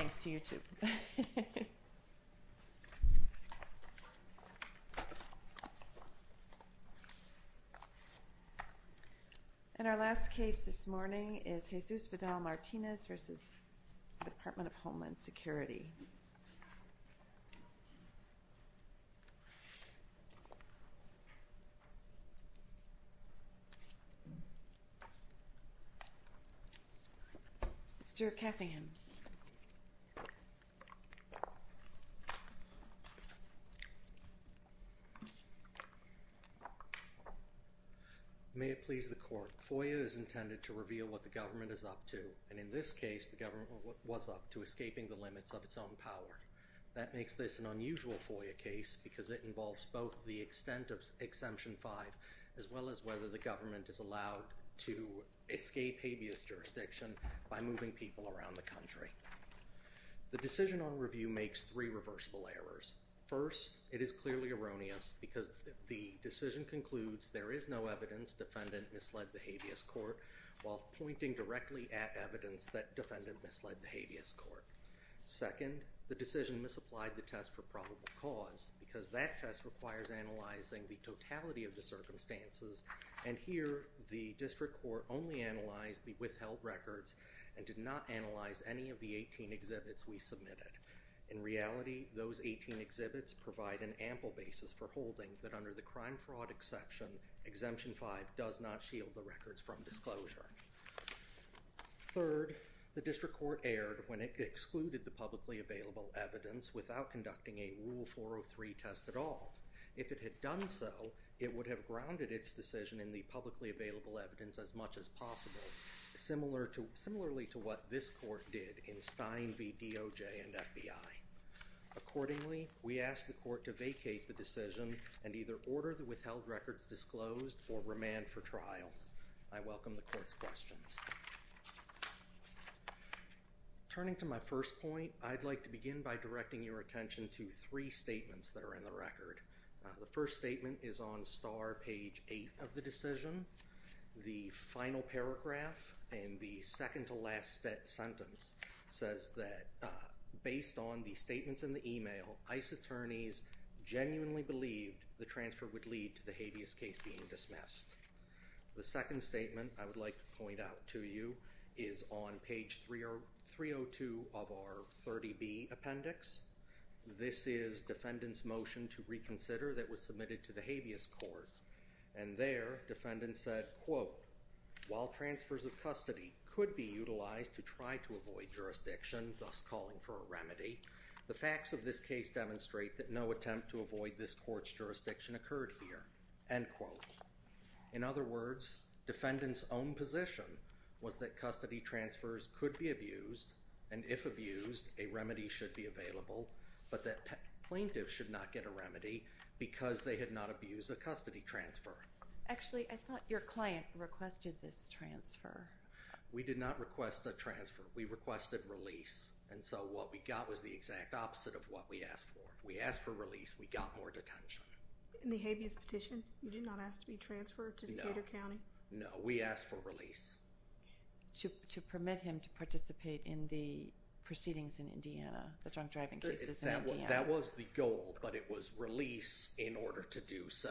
In our last case this morning is Jesus Vidal-Martinez v. Department of Homeland Security. May it please the court, FOIA is intended to reveal what the government is up to and in this case the government was up to escaping the limits of its own power. That makes this an unusual FOIA case because it involves both the extent of Exemption 5 as well as whether the government is allowed to escape habeas jurisdiction by moving people around the country. The decision on review makes three reversible errors. First, it is clearly erroneous because the decision concludes there is no evidence defendant misled the habeas court while pointing directly at evidence that defendant misled the habeas court. Second, the decision misapplied the test for probable cause because that test requires analyzing the totality of the circumstances and here the district court only analyzed the withheld records and did not analyze any of the 18 exhibits we submitted. In reality, those 18 exhibits provide an ample basis for holding that under the crime fraud exception, Exemption 5 does not shield the records from disclosure. Third, the district court erred when it excluded the publicly available evidence without conducting a Rule 403 test at all. If it had done so, it would have grounded its decision in the publicly available evidence as much as possible, similarly to what this court did in Stein v. DOJ and FBI. Accordingly, we ask the court to vacate the decision and either order the withheld records disclosed or remand for trial. I welcome the court's questions. Turning to my first point, I'd like to begin by directing your attention to three statements that are in the record. The first statement is on star page 8 of the decision. The final paragraph and the second to last sentence says that based on the statements in the email, ICE attorneys genuinely believed the transfer would lead to the habeas case being dismissed. The second statement I would like to point out to you is on page 302 of our 30B appendix. This is defendant's motion to reconsider that was submitted to the habeas court and there the defendant said, quote, while transfers of custody could be utilized to try to avoid jurisdiction, thus calling for a remedy, the facts of this case demonstrate that no attempt to avoid this court's jurisdiction occurred here, end quote. In other words, defendant's own position was that custody transfers could be abused and if abused, a remedy should be available, but that plaintiffs should not get a remedy because they had not abused a custody transfer. Actually, I thought your client requested this transfer. We did not request a transfer. We requested release and so what we got was the exact opposite of what we asked for. We asked for release. We got more detention. In the habeas petition, you did not ask to be transferred to Decatur County? No, we asked for release. To permit him to participate in the proceedings in Indiana, the drunk driving cases in Indiana? That was the goal, but it was release in order to do so.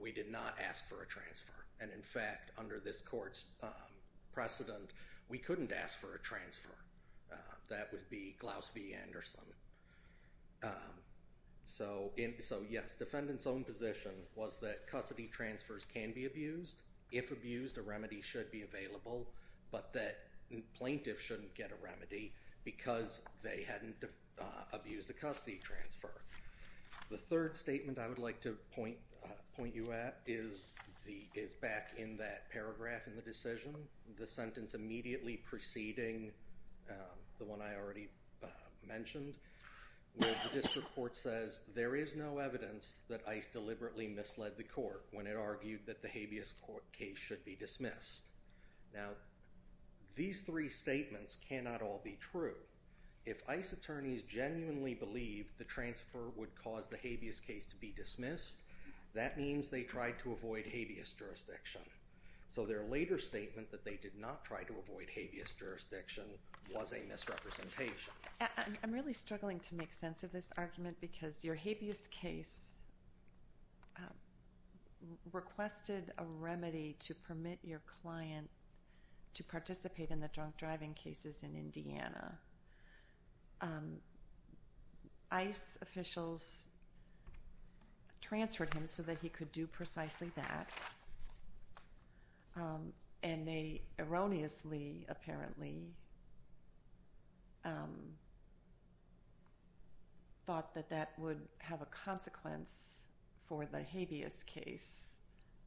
We did not ask for a transfer and in fact, under this court's precedent, we couldn't ask for a transfer. That would be Klaus V. Anderson. So yes, defendant's own position was that custody transfers can be abused. If abused, a remedy should be available, but that plaintiffs shouldn't get a remedy because they hadn't abused a custody transfer. The third statement I would like to point you at is back in that paragraph in the decision, the sentence immediately preceding the one I already mentioned, where the district court says there is no evidence that ICE deliberately misled the court when it argued that the habeas court case should be dismissed. Now, these three statements cannot all be true. If ICE attorneys genuinely believed the transfer would cause the habeas case to be dismissed, that means they tried to avoid habeas jurisdiction. So their later statement that they did not try to avoid habeas jurisdiction was a misrepresentation. I'm really struggling to make sense of this argument because your habeas case requested a remedy to permit your client to participate in the drunk driving cases in Indiana. ICE officials transferred him so that he could do precisely that, and they erroneously, apparently, thought that that would have a consequence for the habeas case,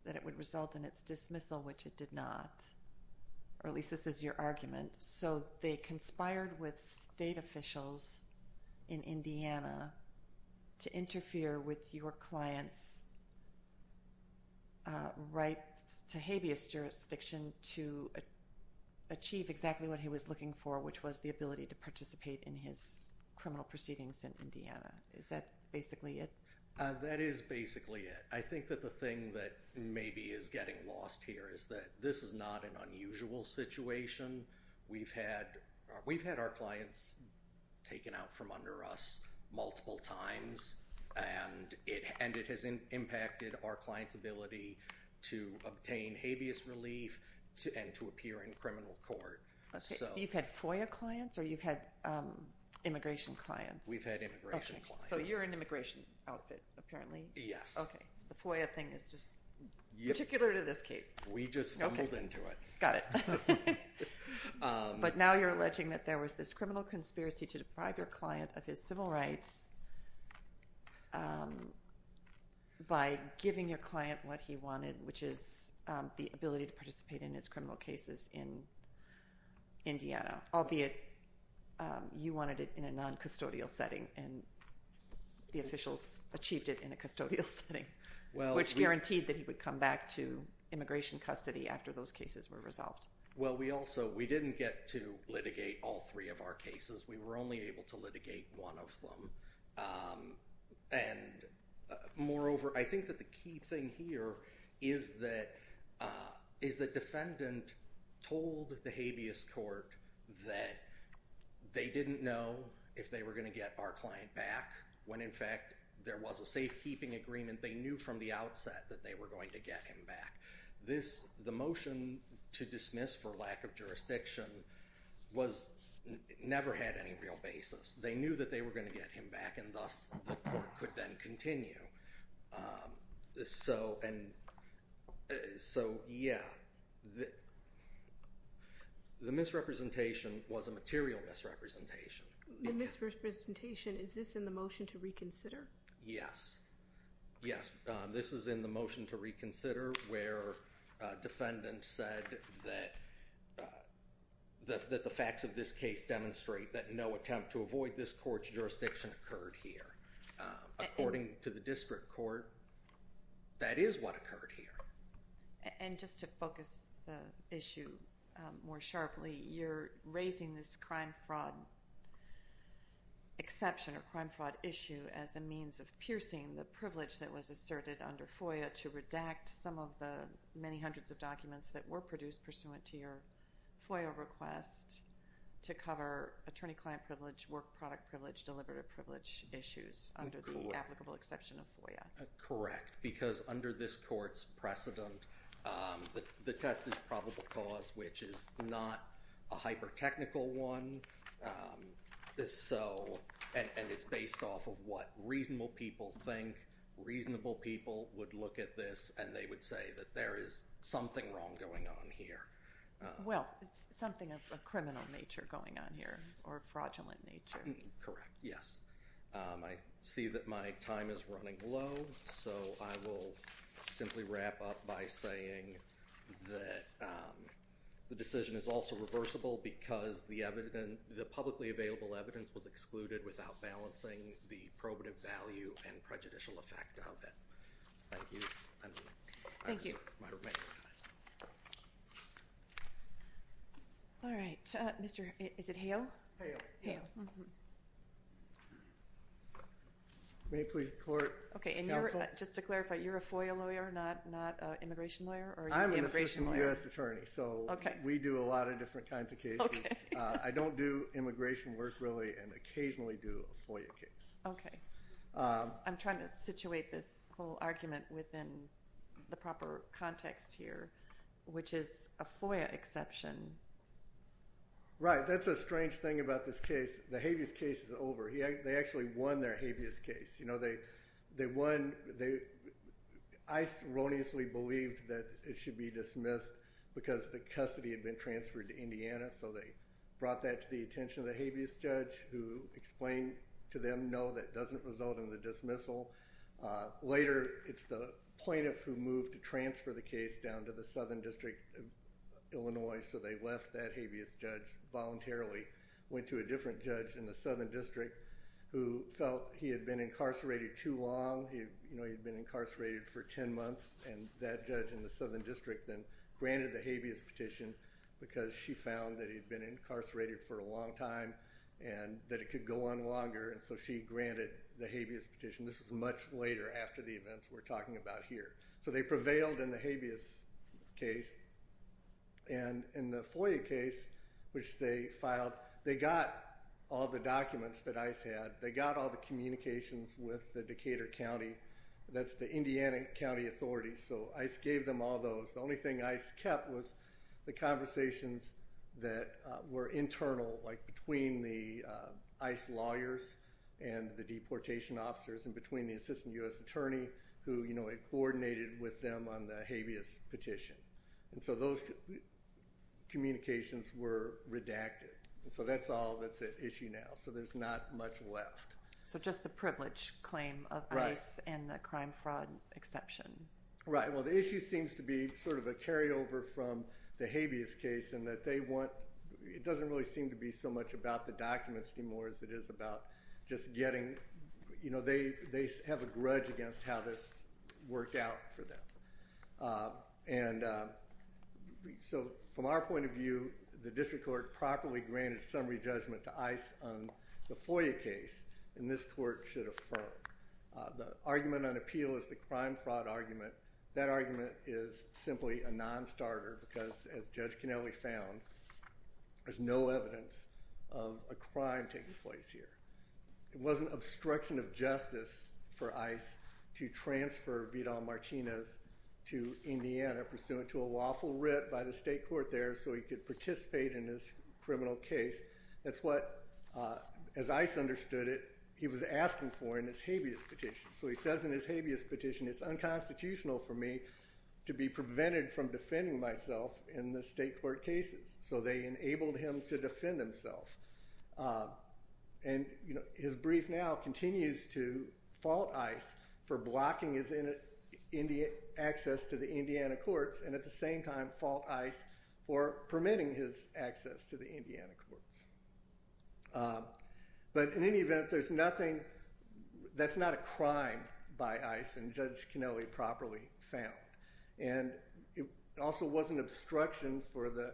that it would result in its dismissal, which it did not, or at least this is your argument. So they conspired with state officials in Indiana to interfere with your client's rights to habeas jurisdiction to achieve exactly what he was looking for, which was the ability to participate in his criminal proceedings in Indiana. Is that basically it? That is basically it. I think that the thing that maybe is getting lost here is that this is not an unusual situation. We've had our clients taken out from under us multiple times, and it has impacted our ability to obtain habeas relief and to appear in criminal court. So you've had FOIA clients, or you've had immigration clients? We've had immigration clients. Okay, so you're an immigration outfit, apparently. Yes. Okay. The FOIA thing is just particular to this case. We just stumbled into it. Got it. But now you're alleging that there was this criminal conspiracy to deprive your client of his civil rights by giving your client what he wanted, which is the ability to participate in his criminal cases in Indiana, albeit you wanted it in a non-custodial setting, and the officials achieved it in a custodial setting, which guaranteed that he would come back to immigration custody after those cases were resolved. Well, we also, we didn't get to litigate all three of our cases. We were only able to litigate one of them, and moreover, I think that the key thing here is that the defendant told the habeas court that they didn't know if they were going to get our client back when, in fact, there was a safekeeping agreement they knew from the outset that they were going to get him back. This, the motion to dismiss for lack of jurisdiction was, never had any real basis. They knew that they were going to get him back, and thus the court could then continue. So yeah, the misrepresentation was a material misrepresentation. The misrepresentation, is this in the motion to reconsider? Yes. Yes, this is in the motion to reconsider where a defendant said that the facts of this case demonstrate that no attempt to avoid this court's jurisdiction occurred here. According to the district court, that is what occurred here. And just to focus the issue more sharply, you're raising this crime fraud exception or crime fraud issue as a means of piercing the privilege that was asserted under FOIA to redact some of the many hundreds of documents that were produced pursuant to your FOIA request to cover attorney-client privilege, work product privilege, deliberative privilege issues under the applicable exception of FOIA. Correct, because under this court's precedent, the test is probable cause, which is not a It's based off of what reasonable people think. Reasonable people would look at this and they would say that there is something wrong going on here. Well, it's something of a criminal nature going on here, or fraudulent nature. Correct. Yes. I see that my time is running low, so I will simply wrap up by saying that the decision is also reversible because the publicly available evidence was excluded without balancing the probative value and prejudicial effect of it. Thank you. Thank you. All right. Is it Hale? Hale. Hale. May it please the court, counsel? Just to clarify, you're a FOIA lawyer, not an immigration lawyer? I'm an assistant U.S. attorney. We do a lot of different kinds of cases. I don't do immigration work, really, and occasionally do a FOIA case. I'm trying to situate this whole argument within the proper context here, which is a FOIA exception. Right. That's the strange thing about this case. The Habeas case is over. They actually won their Habeas case. I erroneously believed that it should be dismissed because the custody had been transferred to Indiana, so they brought that to the attention of the Habeas judge who explained to them, no, that doesn't result in the dismissal. Later, it's the plaintiff who moved to transfer the case down to the Southern District of Illinois, so they left that Habeas judge voluntarily, went to a different judge in the Southern District who felt he had been incarcerated too long. He'd been incarcerated for 10 months, and that judge in the Southern District then granted the Habeas petition because she found that he'd been incarcerated for a long time and that it could go on longer, and so she granted the Habeas petition. This was much later, after the events we're talking about here. They prevailed in the Habeas case. In the FOIA case, which they filed, they got all the documents that ICE had. They got all the communications with the Decatur County. That's the Indiana County Authority, so ICE gave them all those. The only thing ICE kept was the conversations that were internal, like between the ICE lawyers and the deportation officers and between the assistant U.S. attorney who had coordinated with them on the Habeas petition, and so those communications were redacted, and so that's all that's at issue now, so there's not much left. So just the privilege claim of ICE and the crime-fraud exception. Right, well, the issue seems to be sort of a carryover from the Habeas case in that they want—it doesn't really seem to be so much about the documents anymore as it is about just getting—you know, they have a grudge against how this worked out for them. And so from our point of view, the district court properly granted summary judgment to ICE on the FOIA case, and this court should affirm. The argument on appeal is the crime-fraud argument. That argument is simply a non-starter because, as Judge Kennelly found, there's no evidence of a crime taking place here. It wasn't obstruction of justice for ICE to transfer Vidal Martinez to Indiana pursuant to a lawful writ by the state court there so he could participate in this criminal case. That's what, as ICE understood it, he was asking for in his Habeas petition. So he says in his Habeas petition, it's unconstitutional for me to be prevented from And his brief now continues to fault ICE for blocking his access to the Indiana courts and at the same time fault ICE for permitting his access to the Indiana courts. But in any event, there's nothing—that's not a crime by ICE and Judge Kennelly properly found. And it also wasn't obstruction for the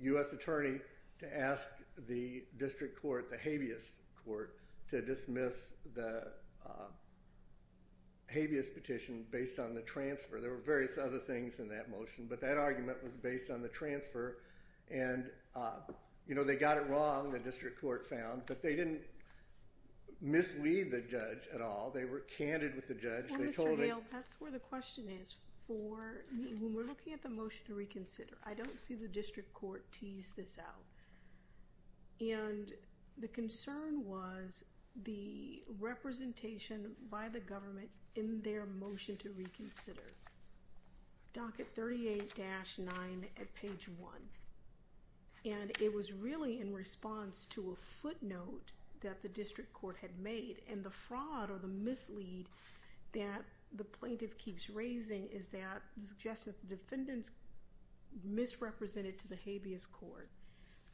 U.S. attorney to ask the district court, the Habeas court, to dismiss the Habeas petition based on the transfer. There were various other things in that motion, but that argument was based on the transfer. And, you know, they got it wrong, the district court found, but they didn't mislead the judge at all. They were candid with the judge. Well, Mr. Gale, that's where the question is. When we're looking at the motion to reconsider, I don't see the district court tease this out. And the concern was the representation by the government in their motion to reconsider, docket 38-9 at page 1. And it was really in response to a footnote that the district court had made and the fraud or the mislead that the plaintiff keeps raising is that the suggestion of the defendants misrepresented to the Habeas court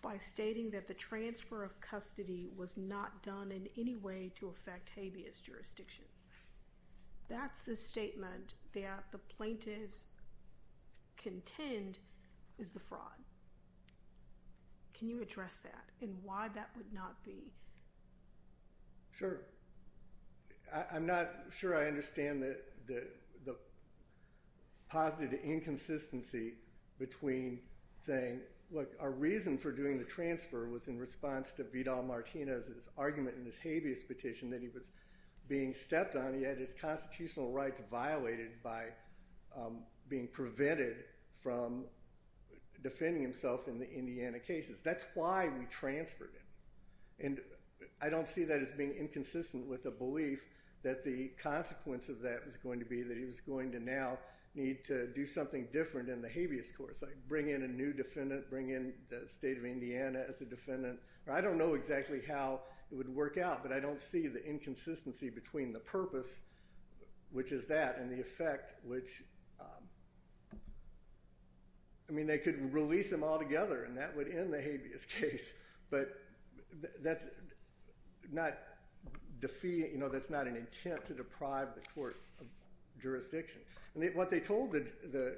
by stating that the transfer of custody was not done in any way to affect Habeas jurisdiction. That's the statement that the plaintiffs contend is the fraud. Can you address that and why that would not be? Sure. I'm not sure I understand the positive inconsistency between saying, look, our reason for doing the transfer was in response to Vidal-Martinez's argument in his Habeas petition that he was being stepped on. He had his constitutional rights violated by being prevented from defending himself in the Indiana cases. That's why we transferred him. And I don't see that as being inconsistent with a belief that the consequence of that was going to be that he was going to now need to do something different in the Habeas court, like bring in a new defendant, bring in the state of Indiana as a defendant. I don't know exactly how it would work out, but I don't see the inconsistency between the purpose, which is that, and the effect, which, I mean, they could release him altogether and that would end the Habeas case, but that's not an intent to deprive the court of jurisdiction. And what they told the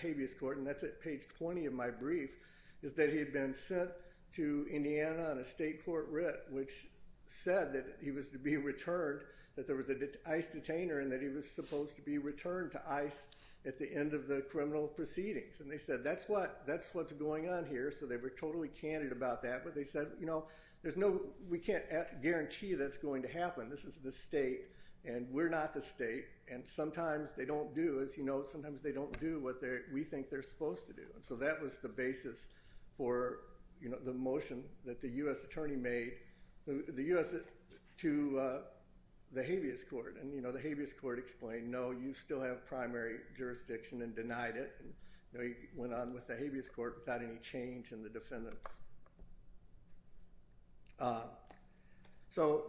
Habeas court, and that's at page 20 of my brief, is that he had been sent to Indiana on a state court writ which said that he was to be returned, that there was an ICE detainer and that he was supposed to be returned to ICE at the end of the criminal proceedings. And they said that's what's going on here, so they were totally candid about that, but they said, you know, we can't guarantee that's going to happen. This is the state, and we're not the state, and sometimes they don't do, as you know, sometimes they don't do what we think they're supposed to do. And so that was the basis for the motion that the U.S. attorney made to the Habeas court. And, you know, the Habeas court explained, no, you still have primary jurisdiction and denied it. And, you know, he went on with the Habeas court without any change in the defendants. So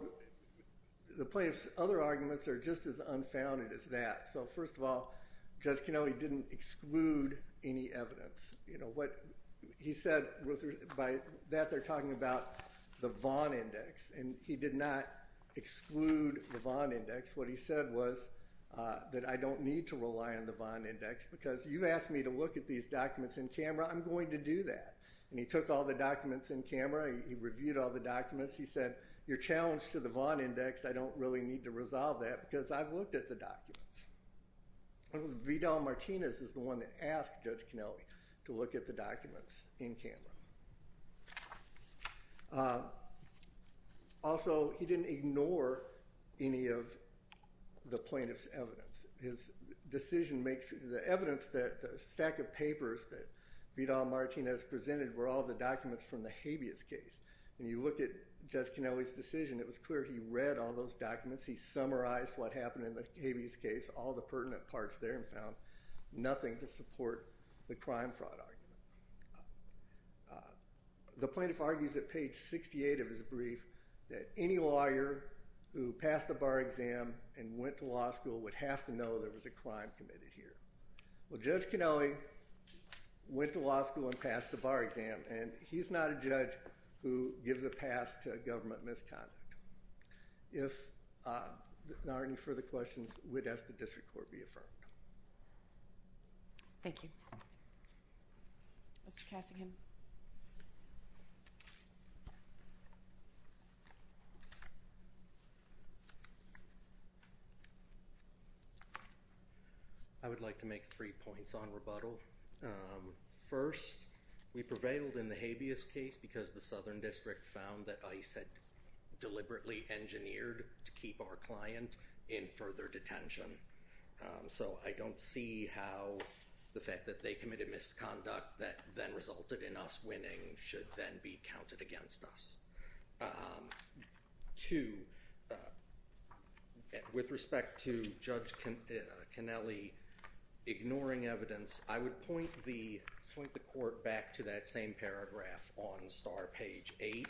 the plaintiff's other arguments are just as unfounded as that. So, first of all, Judge Canelli didn't exclude any evidence. You know, what he said, by that they're talking about the Vaughn index, and he did not exclude the Vaughn index. What he said was that I don't need to rely on the Vaughn index because you've asked me to look at these documents in camera. I'm going to do that. And he took all the documents in camera. He reviewed all the documents. He said, you're challenged to the Vaughn index. I don't really need to resolve that because I've looked at the documents. It was Vidal Martinez is the one that asked Judge Canelli to look at the documents in camera. Also, he didn't ignore any of the plaintiff's evidence. His decision makes the evidence that the stack of papers that Vidal Martinez presented were all the documents from the Habeas case. When you look at Judge Canelli's decision, it was clear he read all those documents. He summarized what happened in the Habeas case, all the pertinent parts there, and found nothing to support the crime fraud argument. The plaintiff argues at page 68 of his brief that any lawyer who passed the bar exam and went to law school would have to know there was a crime committed here. Well, Judge Canelli went to law school and passed the bar exam, and he's not a judge who gives a pass to government misconduct. If there are any further questions, we'd ask the district court be affirmed. Thank you. Mr. Casingham. I would like to make three points on rebuttal. First, we prevailed in the Habeas case because the Southern District found that ICE had deliberately engineered to keep our client in further detention. So I don't see how the fact that they committed misconduct that then resulted in us winning should then be counted against us. Two, with respect to Judge Canelli ignoring evidence, I would point the court back to that same paragraph on star page 8.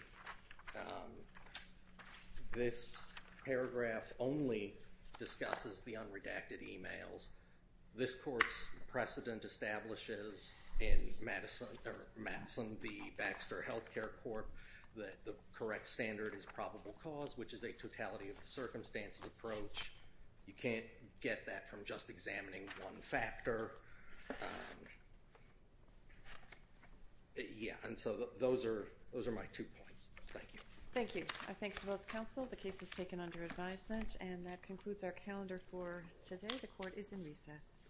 This paragraph only discusses the unredacted emails. This court's precedent establishes in Madison v. Baxter Health Care Court that the correct standard is probable cause, which is a totality of the circumstances approach. You can't get that from just examining one factor. Yeah, and so those are my two points. Thank you. Thank you. Thanks to both counsel. The case is taken under advisement, and that concludes our calendar for today. The court is in recess.